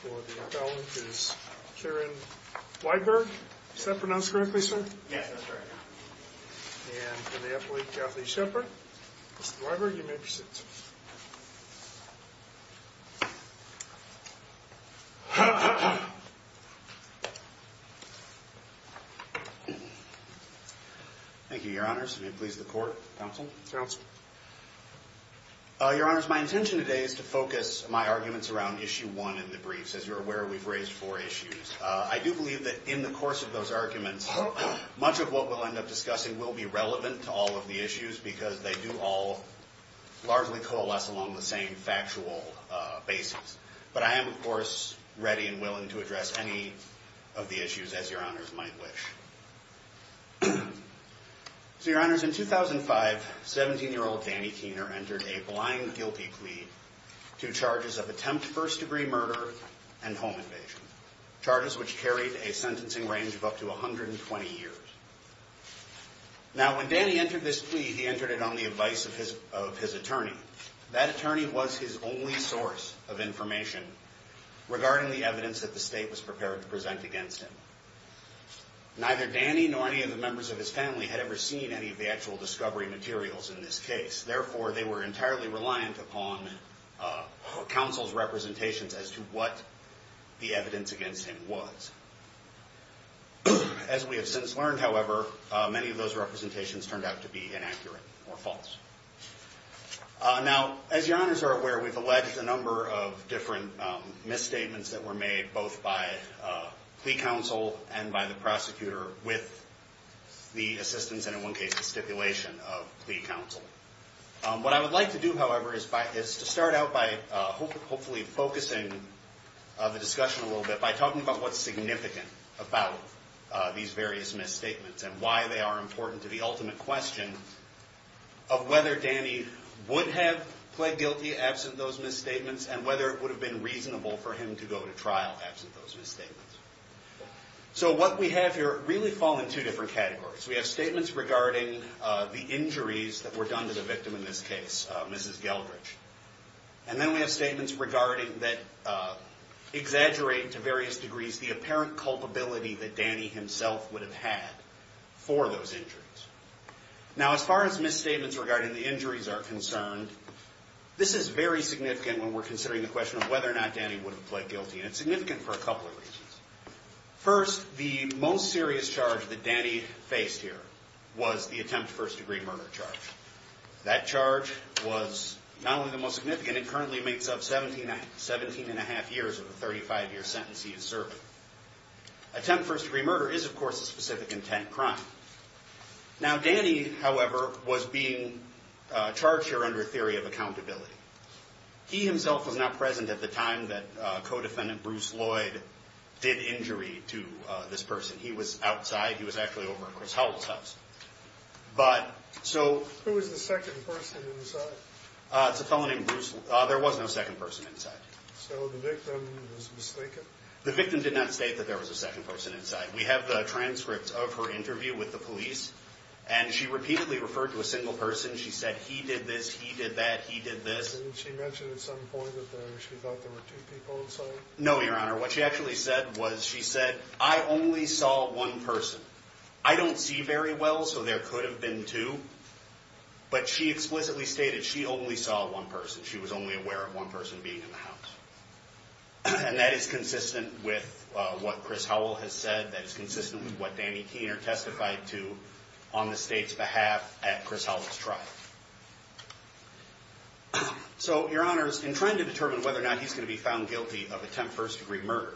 for the appellant is Karen Weiberg. Is that pronounced correctly, sir? Yes, that's right. And for the appellate, Kathleen Shepherd. Mr. Weiberg, you may proceed, sir. Thank you, Your Honors. May it please the Court. Counsel? Counsel. Your Honors, my intention today is to focus my arguments around Issue 1 in the briefs. As you're aware, we've raised four issues. I do believe that in the course of those arguments, much of what we'll end up discussing will be relevant to all of the issues because they do all largely coalesce along the same factual basis. But I am, of course, ready and willing to address any of the issues as Your Honors might wish. So, Your Honors, in 2005, 17-year-old Danny Kuehner entered a blind, guilty plea to charges of attempt first-degree murder and home invasion, charges which carried a sentencing range of up to 120 years. Now, when Danny entered this plea, he entered it on the advice of his attorney. That attorney was his only source of information regarding the evidence that the state was prepared to present against him. Neither Danny nor any of the members of his family had ever seen any of the actual discovery materials in this case. Therefore, they were entirely reliant upon counsel's representations as to what the evidence against him was. As we have since learned, however, many of those representations turned out to be inaccurate or false. Now, as Your Honors are aware, we've alleged a number of different misstatements that were made both by plea counsel and by the prosecutor with the assistance and, in one case, the stipulation of plea counsel. What I would like to do, however, is to start out by hopefully focusing the discussion a little bit by talking about what's significant about these various misstatements and why they are important to the ultimate question of whether Danny would have pled guilty absent those misstatements and whether it would have been reasonable for him to go to trial absent those misstatements. So what we have here really fall in two different categories. We have statements regarding the injuries that were done to the victim in this case, Mrs. Geldrich. And then we have statements regarding that exaggerate to various degrees the apparent culpability that Danny himself would have had for those injuries. Now, as far as misstatements regarding the injuries are concerned, this is very significant when we're considering the question of whether or not Danny would have pled guilty. And it's significant for a couple of reasons. First, the most serious charge that Danny faced here was the attempt to first-degree murder charge. That charge was not only the most significant, it currently makes up 17 and a half years of the 35-year sentence he is serving. Attempt to first-degree murder is, of course, a specific intent crime. Now, Danny, however, was being charged here under theory of accountability. He himself was not present at the time that co-defendant Bruce Lloyd did injury to this person. He was outside. He was actually over at Chris Howell's house. But, so... Who was the second person inside? It's a fellow named Bruce. There was no second person inside. So the victim was mistaken? The victim did not state that there was a second person inside. We have the transcripts of her interview with the police. And she repeatedly referred to a single person. She said, he did this, he did that, he did this. And she mentioned at some point that she thought there were two people inside? No, Your Honor. What she actually said was, she said, I only saw one person. I don't see very well, so there could have been two. But she explicitly stated she only saw one person. She was only aware of one person being in the house. And that is consistent with what Chris Howell has said. That is consistent with what Danny Keener testified to on the state's behalf at Chris Howell's trial. So, Your Honors, in trying to determine whether or not he's going to be found guilty of attempt first degree murder,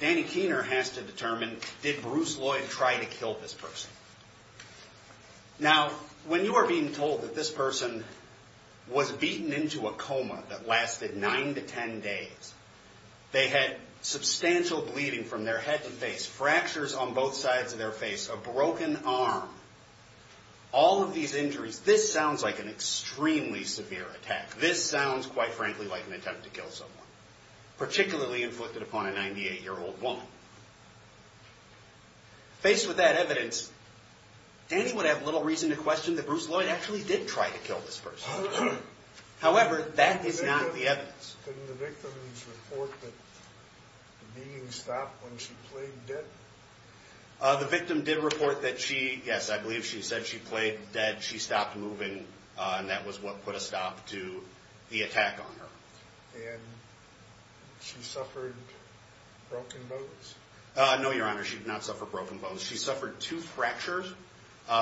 Danny Keener has to determine, did Bruce Lloyd try to kill this person? Now, when you are being told that this person was beaten into a coma that lasted nine to ten days, they had substantial bleeding from their head to face, fractures on both sides of their face, a broken arm, all of these injuries, this sounds like an extremely severe attack. This sounds, quite frankly, like an attempt to kill someone, particularly inflicted upon a 98-year-old woman. Faced with that evidence, Danny would have little reason to question that Bruce Lloyd actually did try to kill this person. However, that is not the evidence. Didn't the victim report that the beating stopped when she played dead? The victim did report that she, yes, I believe she said she played dead, she stopped moving, and that was what put a stop to the attack on her. And she suffered broken bones? No, Your Honor, she did not suffer broken bones. She suffered two fractures.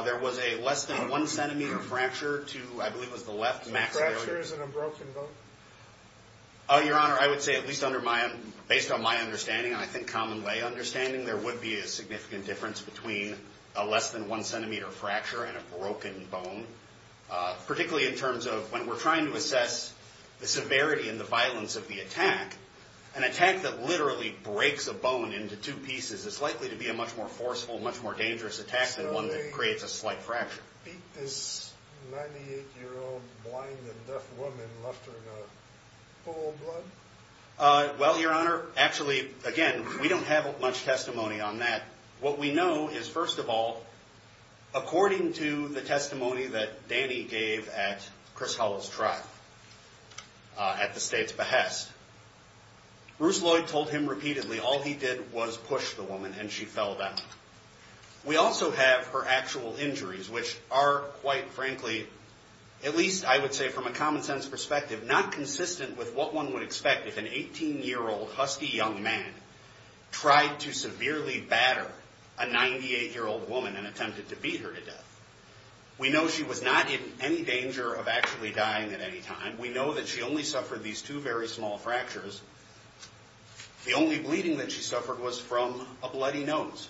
There was a less than one centimeter fracture to, I believe it was the left maxillary. So a fracture isn't a broken bone? Your Honor, I would say, at least under my, based on my understanding, and I think common lay understanding, there would be a significant difference between a less than one centimeter fracture and a broken bone, particularly in terms of when we're trying to assess the severity and the violence of the attack. An attack that literally breaks a bone into two pieces is likely to be a much more forceful, much more dangerous attack than one that creates a slight fracture. So they beat this 98-year-old blind and deaf woman, left her in a pool of blood? Well, Your Honor, actually, again, we don't have much testimony on that. What we know is, first of all, according to the testimony that Danny gave at Chris Hull's trial at the State's behest, Bruce Lloyd told him repeatedly all he did was push the woman and she fell down. We also have her actual injuries, which are, quite frankly, at least I would say from a common sense perspective, not consistent with what one would expect if an 18-year-old husky young man tried to severely batter a 98-year-old woman and attempted to beat her to death. We know she was not in any danger of actually dying at any time. We know that she only suffered these two very small fractures. The only bleeding that she suffered was from a bloody nose.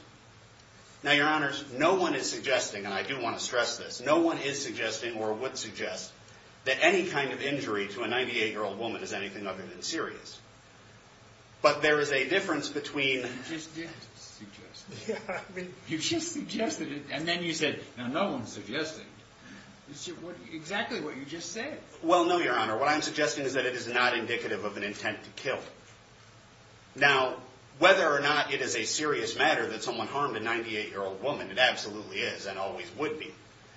Now, Your Honors, no one is suggesting, and I do want to stress this, no one is suggesting or would suggest that any kind of injury to a 98-year-old woman is anything other than serious. But there is a difference between... You just did suggest it. Yeah, I mean... You just suggested it, and then you said, now, no one's suggesting. It's exactly what you just said. Well, no, Your Honor. What I'm suggesting is that it is not indicative of an intent to kill. Now, whether or not it is a serious matter that someone harmed a 98-year-old woman, it absolutely is and always would be.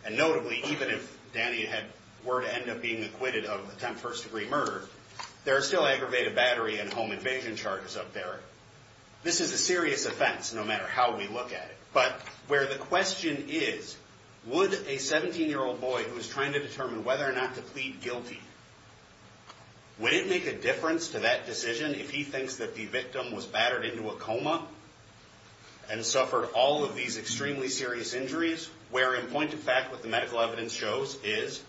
And notably, even if Danny were to end up being acquitted of attempt first-degree murder, there are still aggravated battery and home invasion charges up there. This is a serious offense, no matter how we look at it. But where the question is, would a 17-year-old boy who is trying to determine whether or not to plead guilty, would it make a difference to that decision if he thinks that the victim was battered into a coma and suffered all of these extremely serious injuries, where in point of fact what the medical evidence shows is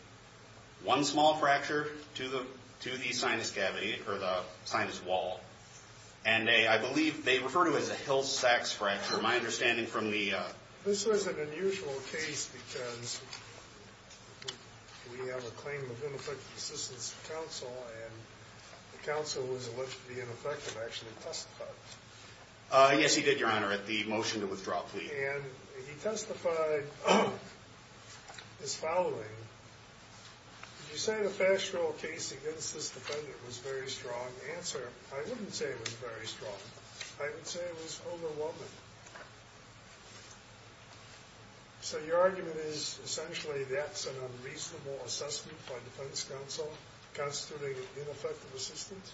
one small fracture to the sinus cavity or the sinus wall. And I believe they refer to it as a Hill-Sacks fracture, my understanding from the... This is an unusual case because we have a claim of ineffective assistance to counsel, and the counsel was allegedly ineffective, actually testified. Yes, he did, Your Honor, at the motion to withdraw plea. And he testified as following. Did you say the fast-draw case against this defendant was a very strong answer? I wouldn't say it was very strong. I would say it was overwhelming. So your argument is essentially that's an unreasonable assessment by defense counsel considering ineffective assistance?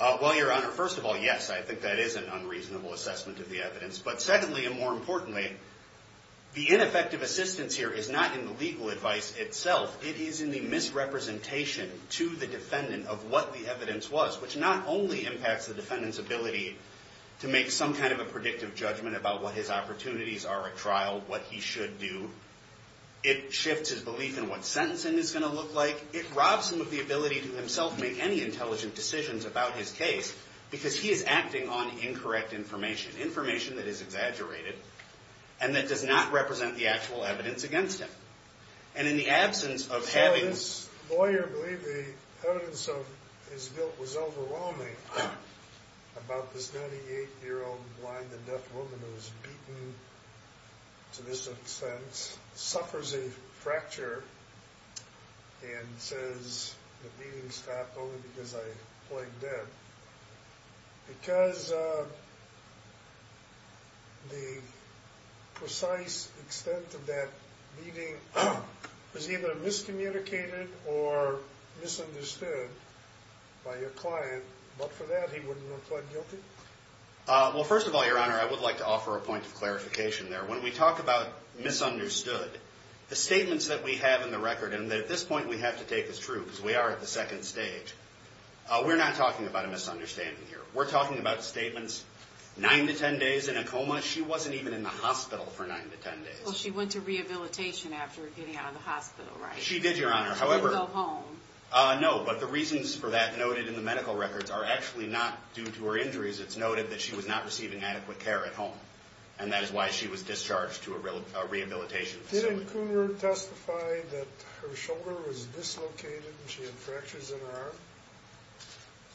Well, Your Honor, first of all, yes, I think that is an unreasonable assessment of the evidence. But secondly, and more importantly, the ineffective assistance here is not in the legal advice itself. It is in the misrepresentation to the defendant of what the evidence was, which not only impacts the defendant's ability to make some kind of a predictive judgment about what his opportunities are at trial, what he should do. It shifts his belief in what sentencing is going to look like. It robs him of the ability to himself make any intelligent decisions about his case because he is acting on incorrect information, information that is exaggerated and that does not represent the actual evidence against him. And in the absence of having... So this lawyer believed the evidence of his guilt was overwhelming about this 98-year-old blind and deaf woman who was beaten to this extent, suffers a fracture and says the beating stopped only because I played dead. Because the precise extent of that beating was either miscommunicated or misunderstood by your client, but for that he wouldn't have pled guilty? Well, first of all, Your Honor, I would like to offer a point of clarification there. When we talk about misunderstood, the statements that we have in the record and that at this point we have to take as true because we are at the second stage, we're not talking about a misunderstanding here. We're talking about statements 9 to 10 days in a coma. She wasn't even in the hospital for 9 to 10 days. Well, she went to rehabilitation after getting out of the hospital, right? She did, Your Honor. She didn't go home. No, but the reasons for that noted in the medical records are actually not due to her injuries. It's noted that she was not receiving adequate care at home, and that is why she was discharged to a rehabilitation facility. Didn't Coonrod testify that her shoulder was dislocated and she had fractures in her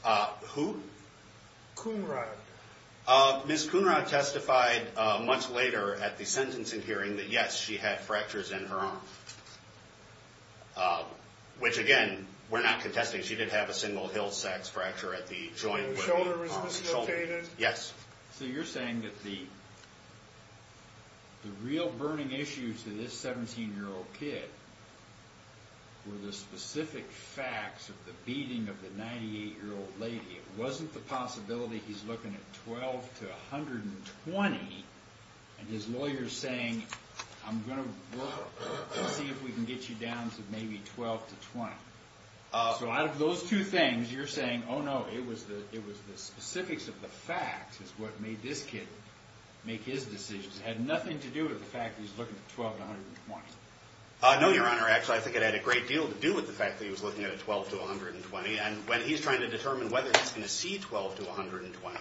arm? Who? Coonrod. Ms. Coonrod testified much later at the sentencing hearing that, yes, she had fractures in her arm, which, again, we're not contesting. She did have a single heel sac fracture at the joint where the arm was dislocated. Yes. So you're saying that the real burning issues to this 17-year-old kid were the specific facts of the beating of the 98-year-old lady. It wasn't the possibility he's looking at 12 to 120 and his lawyer's saying, I'm going to work and see if we can get you down to maybe 12 to 20. So out of those two things, you're saying, oh, no, it was the specifics of the facts is what made this kid make his decisions. It had nothing to do with the fact that he's looking at 12 to 120. No, Your Honor. Actually, I think it had a great deal to do with the fact that he was looking at a 12 to 120. And when he's trying to determine whether he's going to see 12 to 120,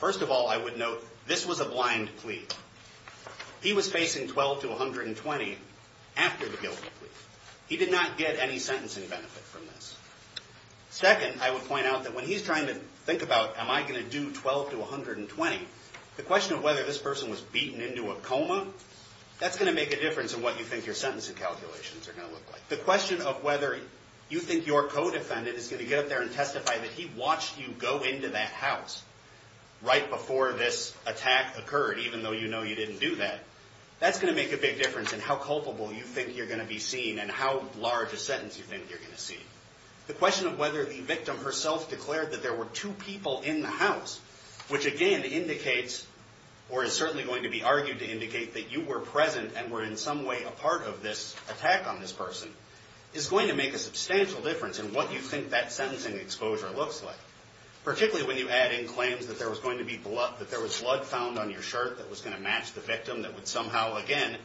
first of all, I would note this was a blind plea. He was facing 12 to 120 after the guilty plea. He did not get any sentencing benefit from this. Second, I would point out that when he's trying to think about, am I going to do 12 to 120, the question of whether this person was beaten into a coma, that's going to make a difference in what you think your sentencing calculations are going to look like. The question of whether you think your co-defendant is going to get up there and testify that he watched you go into that house right before this attack occurred, even though you know you didn't do that, that's going to make a big difference in how culpable you think you're going to be seen and how large a sentence you think you're going to see. The question of whether the victim herself declared that there were two people in the house, which again indicates or is certainly going to be argued to indicate that you were present and were in some way a part of this attack on this person, is going to make a substantial difference in what you think that sentencing exposure looks like, particularly when you add in claims that there was blood found on your shirt that was going to match the victim that would somehow again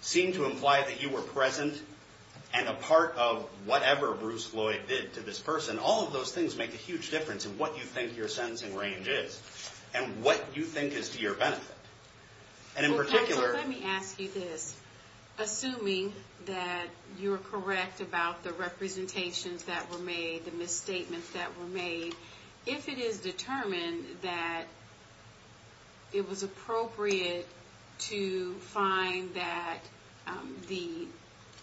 seem to imply that you were present and a part of whatever Bruce Floyd did to this person. All of those things make a huge difference in what you think your sentencing range is and what you think is to your benefit. And in particular... Okay, so let me ask you this. Assuming that you're correct about the representations that were made, the misstatements that were made, if it is determined that it was appropriate to find that the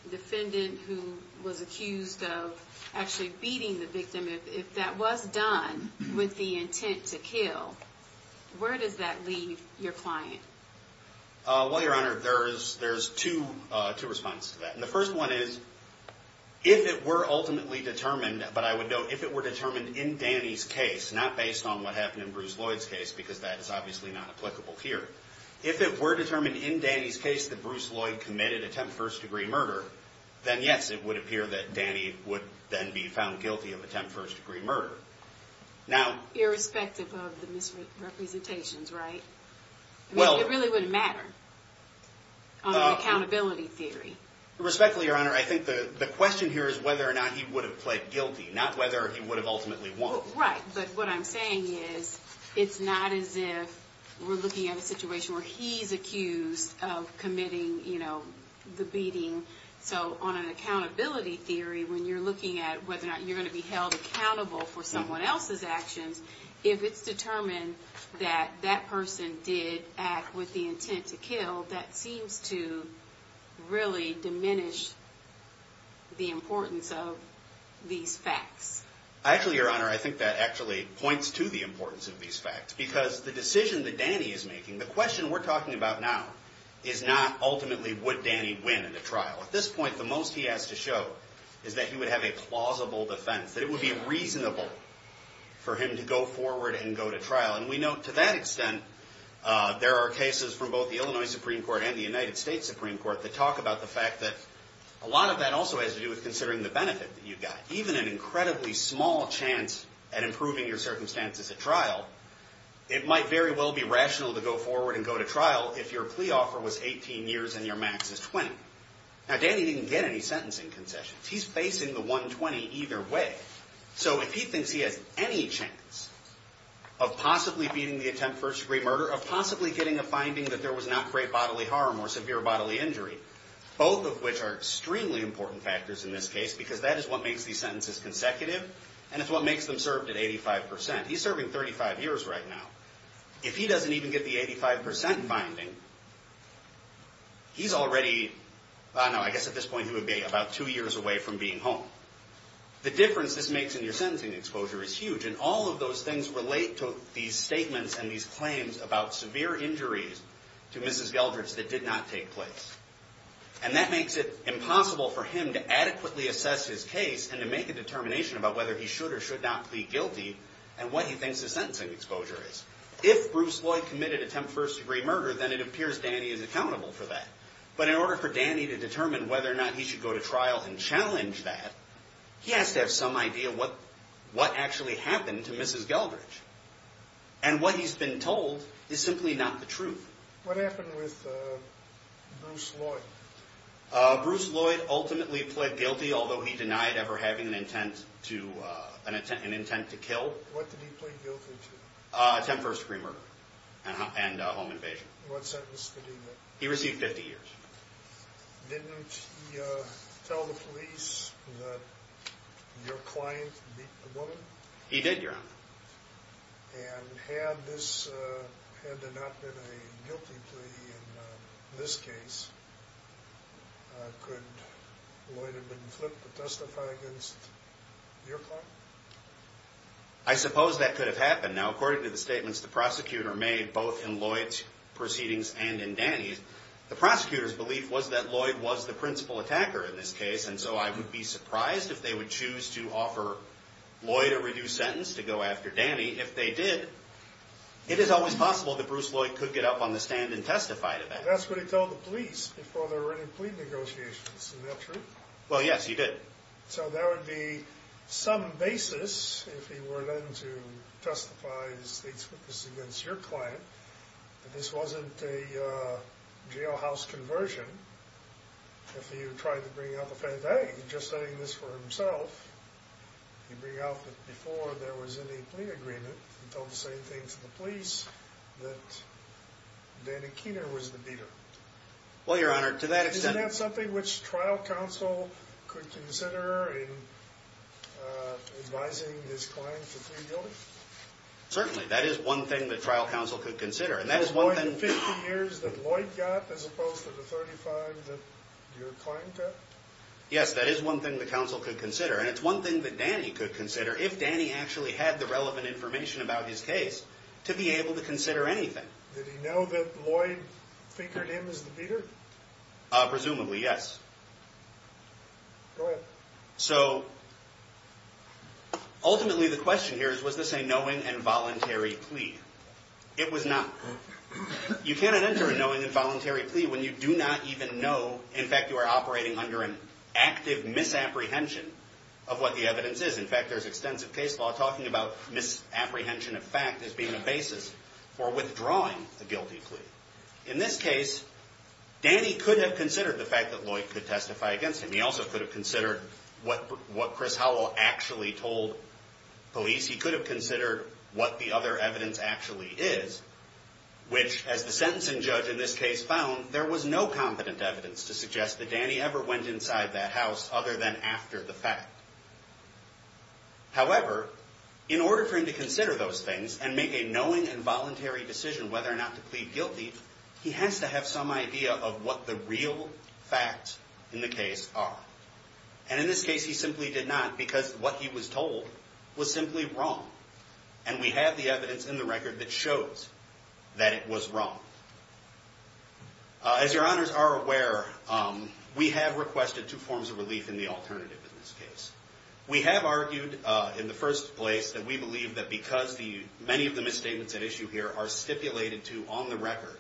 defendant who was accused of actually beating the victim, if that was done with the intent to kill, where does that leave your client? Well, Your Honor, there's two responses to that. And the first one is, if it were ultimately determined, but I would note, if it were determined in Danny's case, not based on what happened in Bruce Floyd's case, because that is obviously not applicable here. If it were determined in Danny's case that Bruce Floyd committed attempt first degree murder, then yes, it would appear that Danny would then be found guilty of attempt first degree murder. Now... Irrespective of the misrepresentations, right? Well... I mean, it really wouldn't matter on an accountability theory. Respectfully, Your Honor, I think the question here is whether or not he would have pled guilty, not whether he would have ultimately won. Right, but what I'm saying is, it's not as if we're looking at a situation where he's accused of committing, you know, the beating. So on an accountability theory, when you're looking at whether or not you're going to be held accountable for someone else's actions, if it's determined that that person did act with the intent to kill, that seems to really diminish the importance of these facts. Actually, Your Honor, I think that actually points to the importance of these facts, because the decision that Danny is making, the question we're talking about now, is not ultimately would Danny win in a trial. At this point, the most he has to show is that he would have a plausible defense, that it would be reasonable for him to go forward and go to trial. And we know to that extent, there are cases from both the Illinois Supreme Court and the United States Supreme Court that talk about the fact that a lot of that also has to do with considering the benefit that you've got. Even an incredibly small chance at improving your circumstances at trial, it might very well be rational to go forward and go to trial if your plea offer was 18 years and your max is 20. Now, Danny didn't get any sentencing concessions. He's facing the 120 either way. So if he thinks he has any chance of possibly beating the attempt for first-degree murder, of possibly getting a finding that there was not great bodily harm or severe bodily injury, both of which are extremely important factors in this case, because that is what makes these sentences consecutive, and it's what makes them served at 85%. He's serving 35 years right now. If he doesn't even get the 85% finding, he's already, I don't know, I guess at this point he would be about two years away from being home. The difference this makes in your sentencing exposure is huge, and all of those things relate to these statements and these claims about severe injuries to Mrs. Geldrich that did not take place. And that makes it impossible for him to adequately assess his case and to make a determination about whether he should or should not plead guilty and what he thinks his sentencing exposure is. If Bruce Lloyd committed attempt first-degree murder, then it appears Danny is accountable for that. But in order for Danny to determine whether or not he should go to trial and challenge that, he has to have some idea what actually happened to Mrs. Geldrich. And what he's been told is simply not the truth. What happened with Bruce Lloyd? Bruce Lloyd ultimately pled guilty, although he denied ever having an intent to kill. What did he plead guilty to? Attempt first-degree murder and home invasion. What sentence did he get? He received 50 years. Didn't he tell the police that your client beat the woman? He did, Your Honor. And had this not been a guilty plea in this case, could Lloyd have been flipped to testify against your client? I suppose that could have happened. Now, according to the statements the prosecutor made both in Lloyd's proceedings and in Danny's, the prosecutor's belief was that Lloyd was the principal attacker in this case, and so I would be surprised if they would choose to offer Lloyd a reduced sentence to go after Danny. If they did, it is always possible that Bruce Lloyd could get up on the stand and testify to that. That's what he told the police before there were any plea negotiations. Isn't that true? Well, yes, he did. So there would be some basis if he were then to testify against your client that this wasn't a jailhouse conversion. If he were to try to bring out the fact that, hey, he's just saying this for himself, he'd bring out that before there was any plea agreement, he told the same thing to the police that Danny Keener was the beater. Well, Your Honor, to that extent... Isn't that something which trial counsel could consider in advising his client to plead guilty? Certainly. That is one thing that trial counsel could consider, and that is one thing... Is it more than 50 years that Lloyd got as opposed to the 35 that your client got? Yes, that is one thing that counsel could consider, and it's one thing that Danny could consider if Danny actually had the relevant information about his case to be able to consider anything. Did he know that Lloyd figured him as the beater? Presumably, yes. Go ahead. So ultimately the question here is, was this a knowing and voluntary plea? It was not. You cannot enter a knowing and voluntary plea when you do not even know, in fact, you are operating under an active misapprehension of what the evidence is. In fact, there's extensive case law talking about misapprehension of fact as being a basis for withdrawing a guilty plea. In this case, Danny could have considered the fact that Lloyd could testify against him. He also could have considered what Chris Howell actually told police. He could have considered what the other evidence actually is, which as the sentencing judge in this case found, there was no competent evidence to suggest that Danny ever went inside that house other than after the fact. However, in order for him to consider those things and make a knowing and voluntary decision whether or not to plead guilty, he has to have some idea of what the real facts in the case are. And in this case, he simply did not because what he was told was simply wrong. And we have the evidence in the record that shows that it was wrong. As your honors are aware, we have requested two forms of relief in the alternative in this case. We have argued in the first place that we believe that because many of the misstatements at issue here are stipulated to on the record,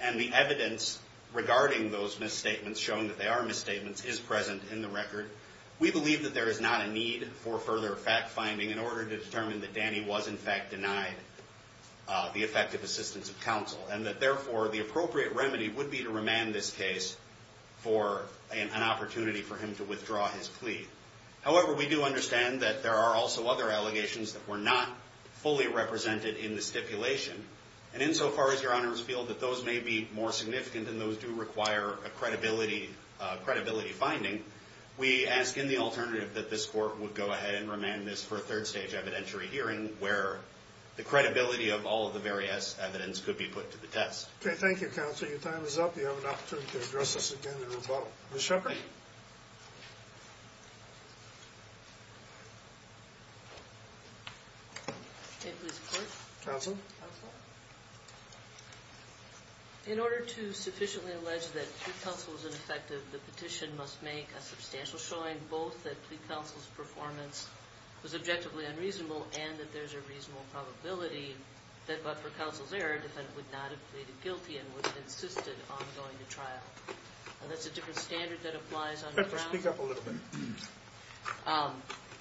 and the evidence regarding those misstatements showing that they are misstatements is present in the record, we believe that there is not a need for further fact-finding in order to determine that Danny was in fact denied the effective assistance of counsel and that therefore the appropriate remedy would be to remand this case for an opportunity for him to withdraw his plea. However, we do understand that there are also other allegations that were not fully represented in the stipulation, and insofar as your honors feel that those may be more significant and those do require a credibility finding, we ask in the alternative that this court would go ahead and remand this for a third stage evidentiary hearing where the credibility of all of the various evidence could be put to the test. Okay, thank you, counsel. Your time is up. You have an opportunity to address this again in your vote. Ms. Shepard? Can I please report? Counsel? Counsel? In order to sufficiently allege that plea counsel was ineffective, the petition must make a substantial showing both that plea counsel's performance was objectively unreasonable and that there's a reasonable probability that but for counsel's error, a defendant would not have pleaded guilty and would have insisted on going to trial. That's a different standard that applies under Brown. Speak up a little bit.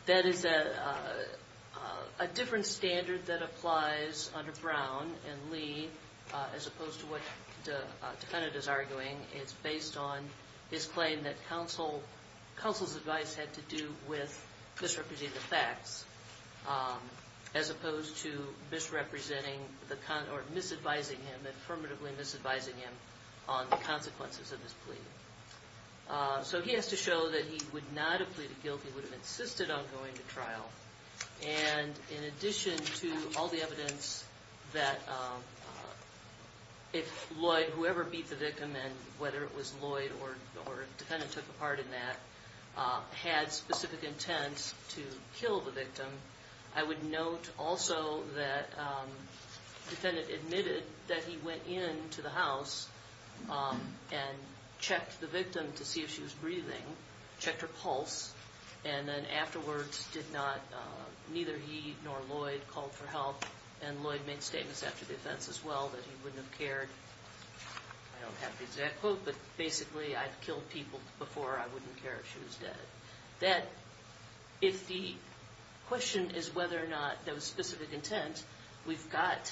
That is a different standard that applies under Brown and Lee as opposed to what the defendant is arguing. It's based on his claim that counsel's advice had to do with misrepresenting the facts as opposed to misrepresenting or misadvising him and affirmatively misadvising him on the consequences of his plea. So he has to show that he would not have pleaded guilty, would have insisted on going to trial, and in addition to all the evidence that if Lloyd, whoever beat the victim, and whether it was Lloyd or the defendant took a part in that, had specific intents to kill the victim, I would note also that the defendant admitted that he went into the house and checked the victim to see if she was breathing, checked her pulse, and then afterwards neither he nor Lloyd called for help, and Lloyd made statements after the offense as well that he wouldn't have cared. I don't have the exact quote, but basically, I've killed people before I wouldn't care if she was dead. That if the question is whether or not there was specific intent, we've got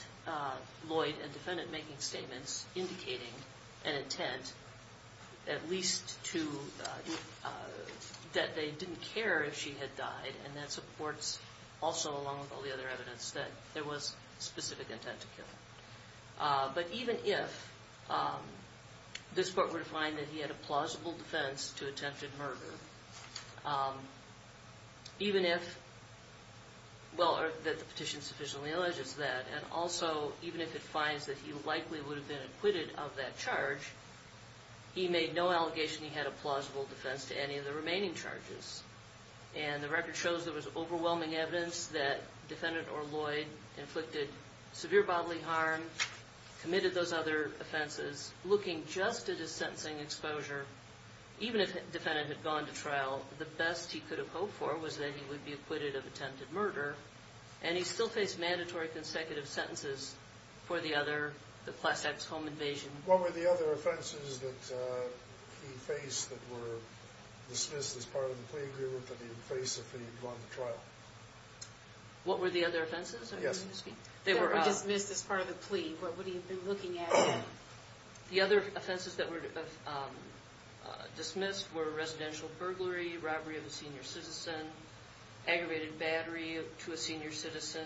Lloyd and defendant making statements indicating an intent at least to that they didn't care if she had died, and that supports also along with all the other evidence that there was specific intent to kill. But even if this court were to find that he had a plausible defense to attempted murder, even if, well, that the petition sufficiently alleges that, and also even if it finds that he likely would have been acquitted of that charge, he made no allegation he had a plausible defense to any of the remaining charges, and the record shows there was overwhelming evidence that defendant or Lloyd inflicted severe bodily harm, committed those other offenses. Looking just at his sentencing exposure, even if the defendant had gone to trial, the best he could have hoped for was that he would be acquitted of attempted murder, and he still faced mandatory consecutive sentences for the other, the class X home invasion. What were the other offenses that he faced that were dismissed as part of the plea agreement that he would face if he had gone to trial? What were the other offenses? They were dismissed as part of the plea. What would he have been looking at? The other offenses that were dismissed were residential burglary, robbery of a senior citizen, aggravated battery to a senior citizen,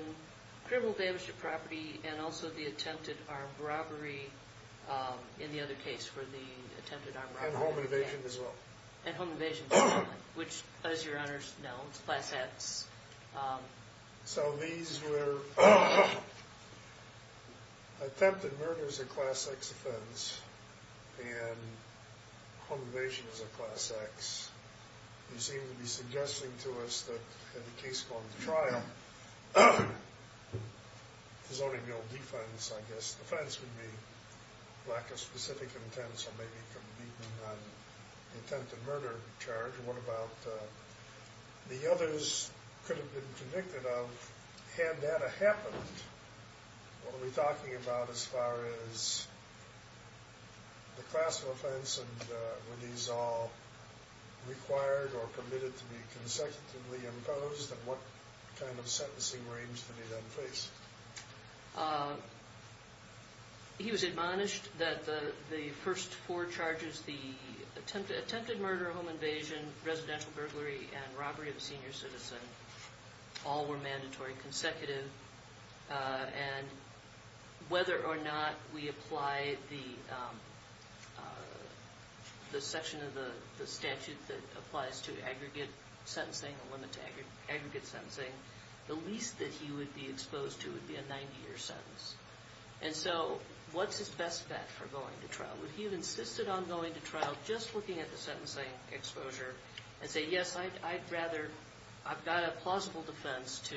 criminal damage to property, and also the attempted armed robbery, in the other case for the attempted armed robbery. And home invasion as well. And home invasion as well, which, as your honors know, it's class X. So these were attempted murder as a class X offense, and home invasion as a class X. You seem to be suggesting to us that in the case going to trial, there's only real defense, I guess. Defense would be lack of specific intent, so maybe commitment on the attempted murder charge. What about the others could have been convicted of had that happened? What are we talking about as far as the class of offense? And were these all required or permitted to be consecutively imposed? And what kind of sentencing range did he then face? He was admonished that the first four charges, the attempted murder, home invasion, residential burglary, and robbery of a senior citizen, all were mandatory consecutive. And whether or not we apply the section of the statute that applies to aggregate sentencing, the limit to aggregate sentencing, the least that he would be exposed to would be a 90-year sentence. And so what's his best bet for going to trial? Would he have insisted on going to trial just looking at the sentencing exposure and say, yes, I'd rather, I've got a plausible defense to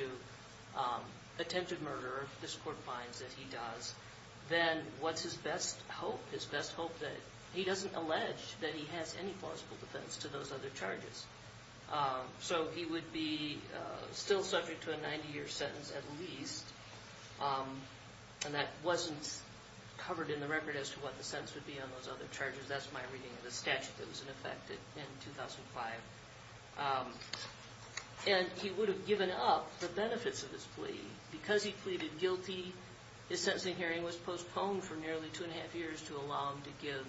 attempted murder, if this court finds that he does, then what's his best hope? His best hope that he doesn't allege that he has any plausible defense to those other charges. So he would be still subject to a 90-year sentence at least, and that wasn't covered in the record as to what the sentence would be on those other charges. That's my reading of the statute that was in effect in 2005. And he would have given up the benefits of his plea. Because he pleaded guilty, his sentencing hearing was postponed for nearly two and a half years to allow him to give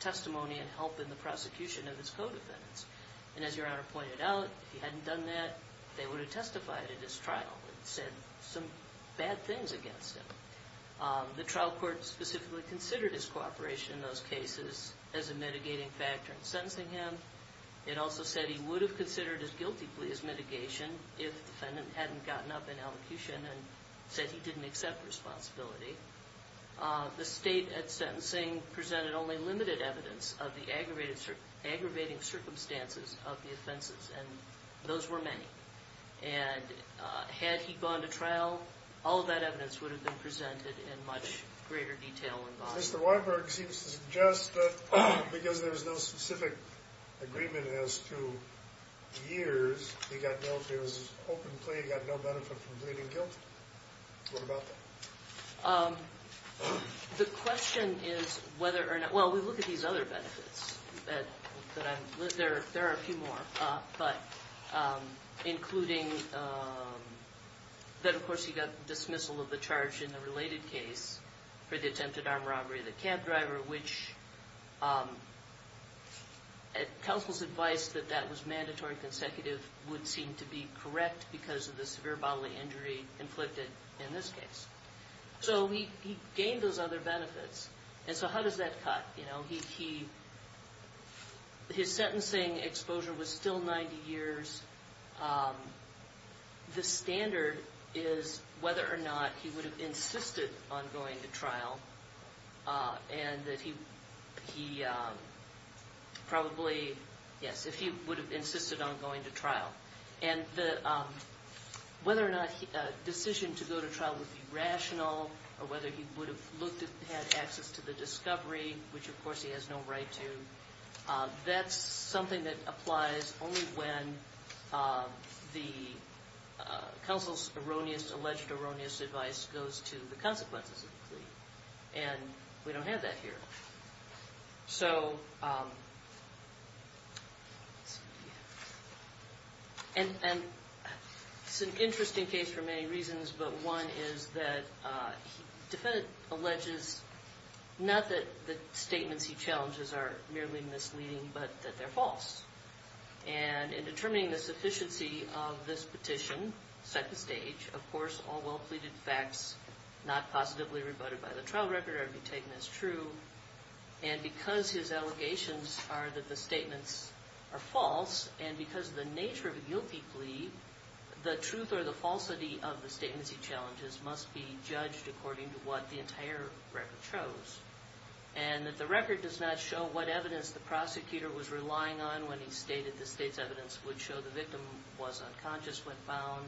testimony and help in the prosecution of his co-defendants. And as Your Honor pointed out, if he hadn't done that, they would have testified at his trial and said some bad things against him. The trial court specifically considered his cooperation in those cases as a mitigating factor in sentencing him. It also said he would have considered his guilty plea as mitigation if the defendant hadn't gotten up in elocution and said he didn't accept responsibility. The state at sentencing presented only limited evidence of the aggravating circumstances of the offenses, and those were many. And had he gone to trial, all of that evidence would have been presented in much greater detail and volume. Mr. Weinberg seems to suggest that because there was no specific agreement as to years, he got no benefit from pleading guilty. What about that? The question is whether or not – well, we look at these other benefits. There are a few more, but including that, of course, he got dismissal of the charge in the related case for the attempted armed robbery of the cab driver, which counsel's advice that that was mandatory and consecutive would seem to be correct because of the severe bodily injury inflicted in this case. So he gained those other benefits. And so how does that cut? His sentencing exposure was still 90 years. The standard is whether or not he would have insisted on going to trial and that he probably – yes, if he would have insisted on going to trial. And whether or not a decision to go to trial would be rational or whether he would have had access to the discovery, which of course he has no right to, that's something that applies only when the counsel's erroneous, alleged erroneous advice goes to the consequences of the plea. And we don't have that here. So it's an interesting case for many reasons, but one is that the defendant alleges, not that the statements he challenges are merely misleading, but that they're false. And in determining the sufficiency of this petition, second stage, of course all well-pleaded facts not positively rebutted by the trial record are to be taken as true. And because his allegations are that the statements are false and because of the nature of a guilty plea, the truth or the falsity of the statements he challenges must be judged according to what the entire record shows. And that the record does not show what evidence the prosecutor was relying on when he stated the state's evidence would show the victim was unconscious when found,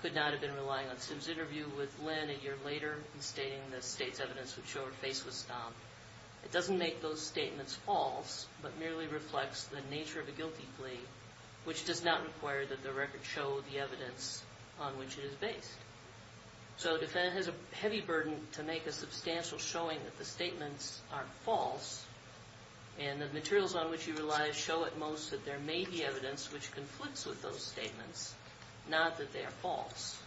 could not have been relying on Sims' interview with Lynn a year later when stating the state's evidence would show her face was stomped. It doesn't make those statements false, but merely reflects the nature of a guilty plea, which does not require that the record show the evidence on which it is based. So the defendant has a heavy burden to make a substantial showing that the statements aren't false, and the materials on which he relies show at most that there may be evidence which conflicts with those statements, not that they are false.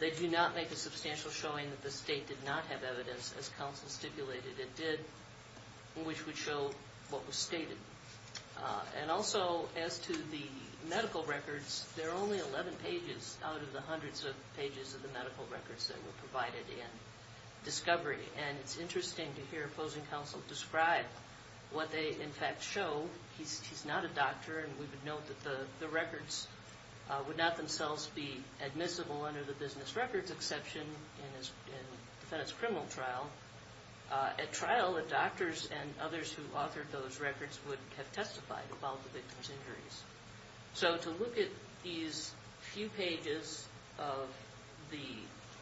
They do not make a substantial showing that the state did not have evidence, as counsel stipulated it did, which would show what was stated. And also, as to the medical records, there are only 11 pages out of the hundreds of pages of the medical records that were provided in discovery. And it's interesting to hear opposing counsel describe what they in fact show. would not themselves be admissible under the business records exception in the defendant's criminal trial. At trial, the doctors and others who authored those records would have testified about the victim's injuries. So to look at these few pages of the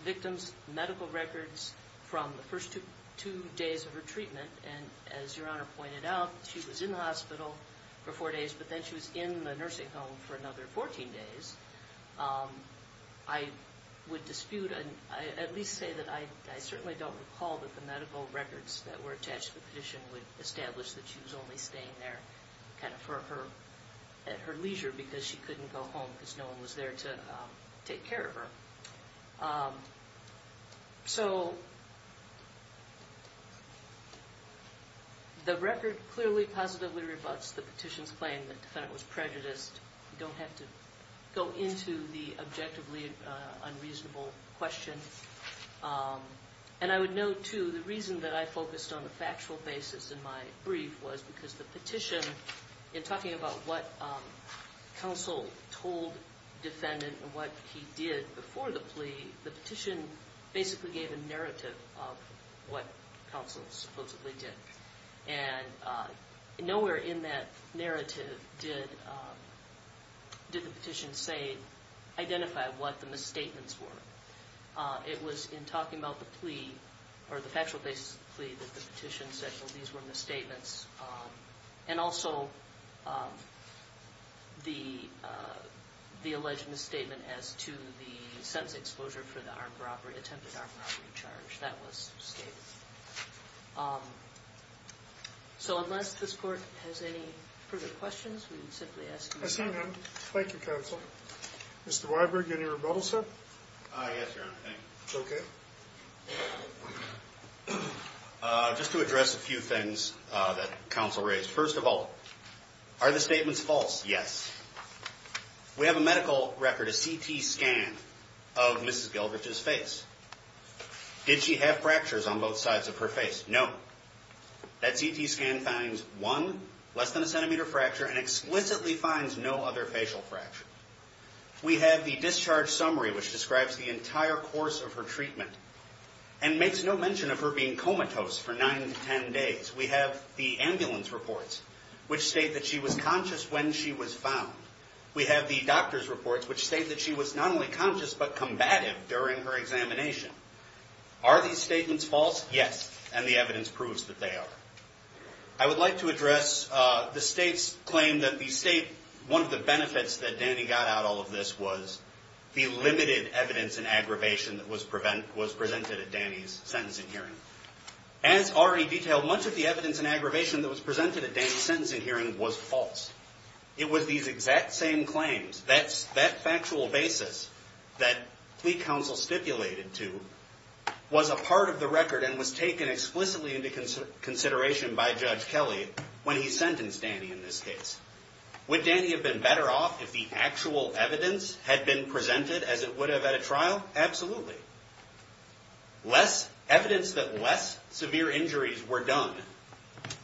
victim's medical records from the first two days of her treatment, and as Your Honor pointed out, she was in the hospital for four days, but then she was in the nursing home for another 14 days. I would dispute, at least say that I certainly don't recall that the medical records that were attached to the petition would establish that she was only staying there kind of for her leisure because she couldn't go home because no one was there to take care of her. So the record clearly positively rebuts the petition's claim that the defendant was prejudiced. You don't have to go into the objectively unreasonable question. And I would note, too, the reason that I focused on the factual basis in my brief was because the petition, in talking about what counsel told the defendant and what he did before the plea, the petition basically gave a narrative of what counsel supposedly did. And nowhere in that narrative did the petition say, identify what the misstatements were. It was in talking about the plea, or the factual basis of the plea, that the petition said, well, these were misstatements. And also the alleged misstatement as to the sentence exposure for the attempted armed robbery charge. That was stated. So unless this Court has any further questions, we would simply ask you to... I see none. Thank you, counsel. Mr. Weiberg, any rebuttals, sir? Yes, Your Honor. Thank you. Okay. Just to address a few things that counsel raised. First of all, are the statements false? Yes. We have a medical record, a CT scan of Mrs. Gelbrich's face. Did she have fractures on both sides of her face? No. That CT scan finds one less than a centimeter fracture and explicitly finds no other facial fracture. We have the discharge summary, which describes the entire course of her treatment and makes no mention of her being comatose for nine to ten days. We have the ambulance reports, which state that she was conscious when she was found. We have the doctor's reports, which state that she was not only conscious, but combative during her examination. Are these statements false? Yes. And the evidence proves that they are. I would like to address the State's claim that the State, one of the benefits that Danny got out of all of this was the limited evidence and aggravation that was presented at Danny's sentencing hearing. As already detailed, much of the evidence and aggravation that was presented at Danny's sentencing hearing was false. It was these exact same claims. That factual basis that plea counsel stipulated to was a part of the record and was taken explicitly into consideration by Judge Kelly when he sentenced Danny in this case. Would Danny have been better off if the actual evidence had been presented as it would have at a trial? Absolutely. Less evidence that less severe injuries were done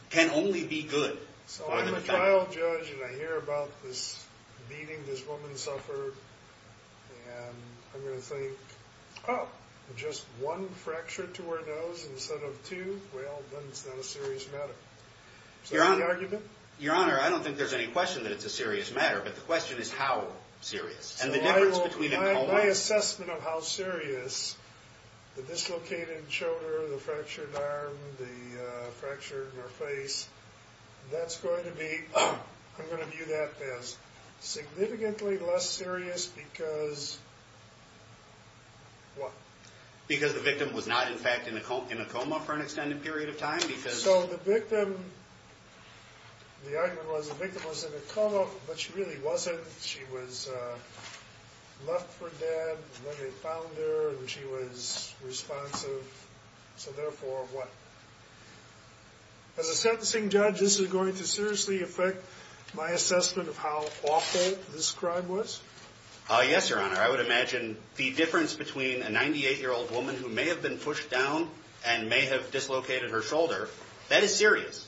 can only be good. So I'm a trial judge and I hear about this beating this woman suffered and I'm going to think, oh, just one fracture to her nose instead of two? Well, then it's not a serious matter. Is that the argument? Your Honor, I don't think there's any question that it's a serious matter, but the question is how serious. So my assessment of how serious the dislocated shoulder, the fractured arm, the fracture in her face, that's going to be, I'm going to view that as significantly less serious because what? Because the victim was not, in fact, in a coma for an extended period of time? So the victim, the argument was the victim was in a coma, but she really wasn't. She was left for dead when they found her and she was responsive. So therefore what? As a sentencing judge, this is going to seriously affect my assessment of how awful this crime was? Yes, Your Honor. I would imagine the difference between a 98-year-old woman who may have been pushed down and may have dislocated her shoulder, that is serious.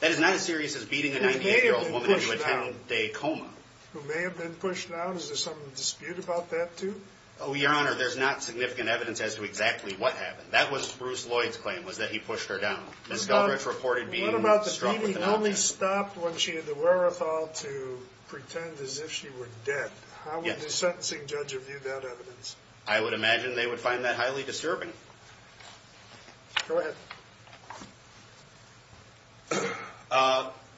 That is not as serious as beating a 98-year-old woman into a 10-day coma. Who may have been pushed down? Is there some dispute about that, too? Oh, Your Honor, there's not significant evidence as to exactly what happened. That was Bruce Lloyd's claim was that he pushed her down. Ms. Galbraith reported being struck with an object. She stopped when she had the wherewithal to pretend as if she were dead. How would the sentencing judge view that evidence? I would imagine they would find that highly disturbing. Go ahead.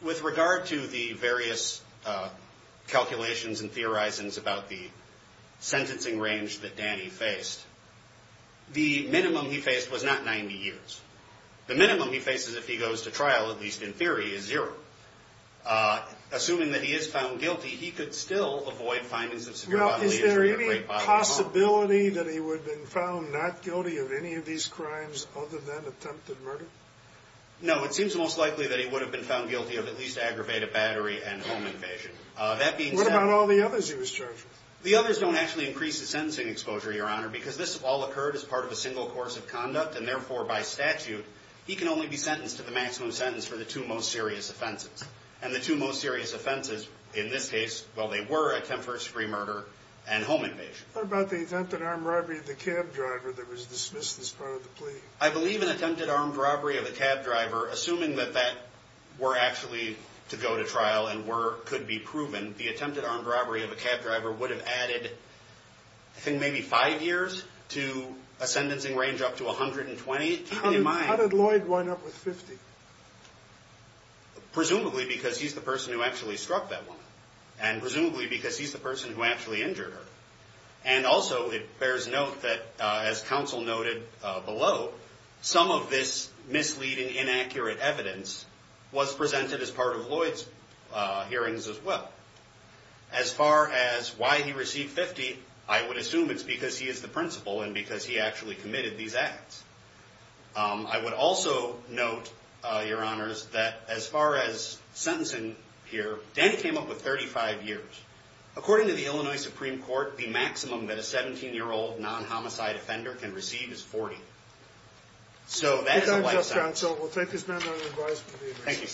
With regard to the various calculations and theorizings about the sentencing range that Danny faced, the minimum he faced was not 90 years. The minimum he faces if he goes to trial, at least in theory, is zero. Assuming that he is found guilty, he could still avoid findings of severe bodily injury or great bodily harm. Is there any possibility that he would have been found not guilty of any of these crimes other than attempted murder? No, it seems most likely that he would have been found guilty of at least aggravated battery and home invasion. What about all the others he was charged with? The others don't actually increase the sentencing exposure, Your Honor, because this all occurred as part of a single course of conduct, and therefore by statute he can only be sentenced to the maximum sentence for the two most serious offenses. And the two most serious offenses in this case, well, they were attempted first degree murder and home invasion. What about the attempted armed robbery of the cab driver that was dismissed as part of the plea? I believe an attempted armed robbery of a cab driver, assuming that that were actually to go to trial and could be proven, the attempted armed robbery of a cab driver would have added, I think, maybe five years to a sentencing range up to 120. How did Lloyd wind up with 50? Presumably because he's the person who actually struck that woman, and presumably because he's the person who actually injured her. And also it bears note that, as counsel noted below, some of this misleading, inaccurate evidence was presented as part of Lloyd's hearings as well. As far as why he received 50, I would assume it's because he is the principal and because he actually committed these acts. I would also note, Your Honors, that as far as sentencing here, Danny came up with 35 years. According to the Illinois Supreme Court, the maximum that a 17-year-old non-homicide offender can receive is 40. So that is a lifetime. Thank you, counsel. We'll take this matter under advisement. Thank you.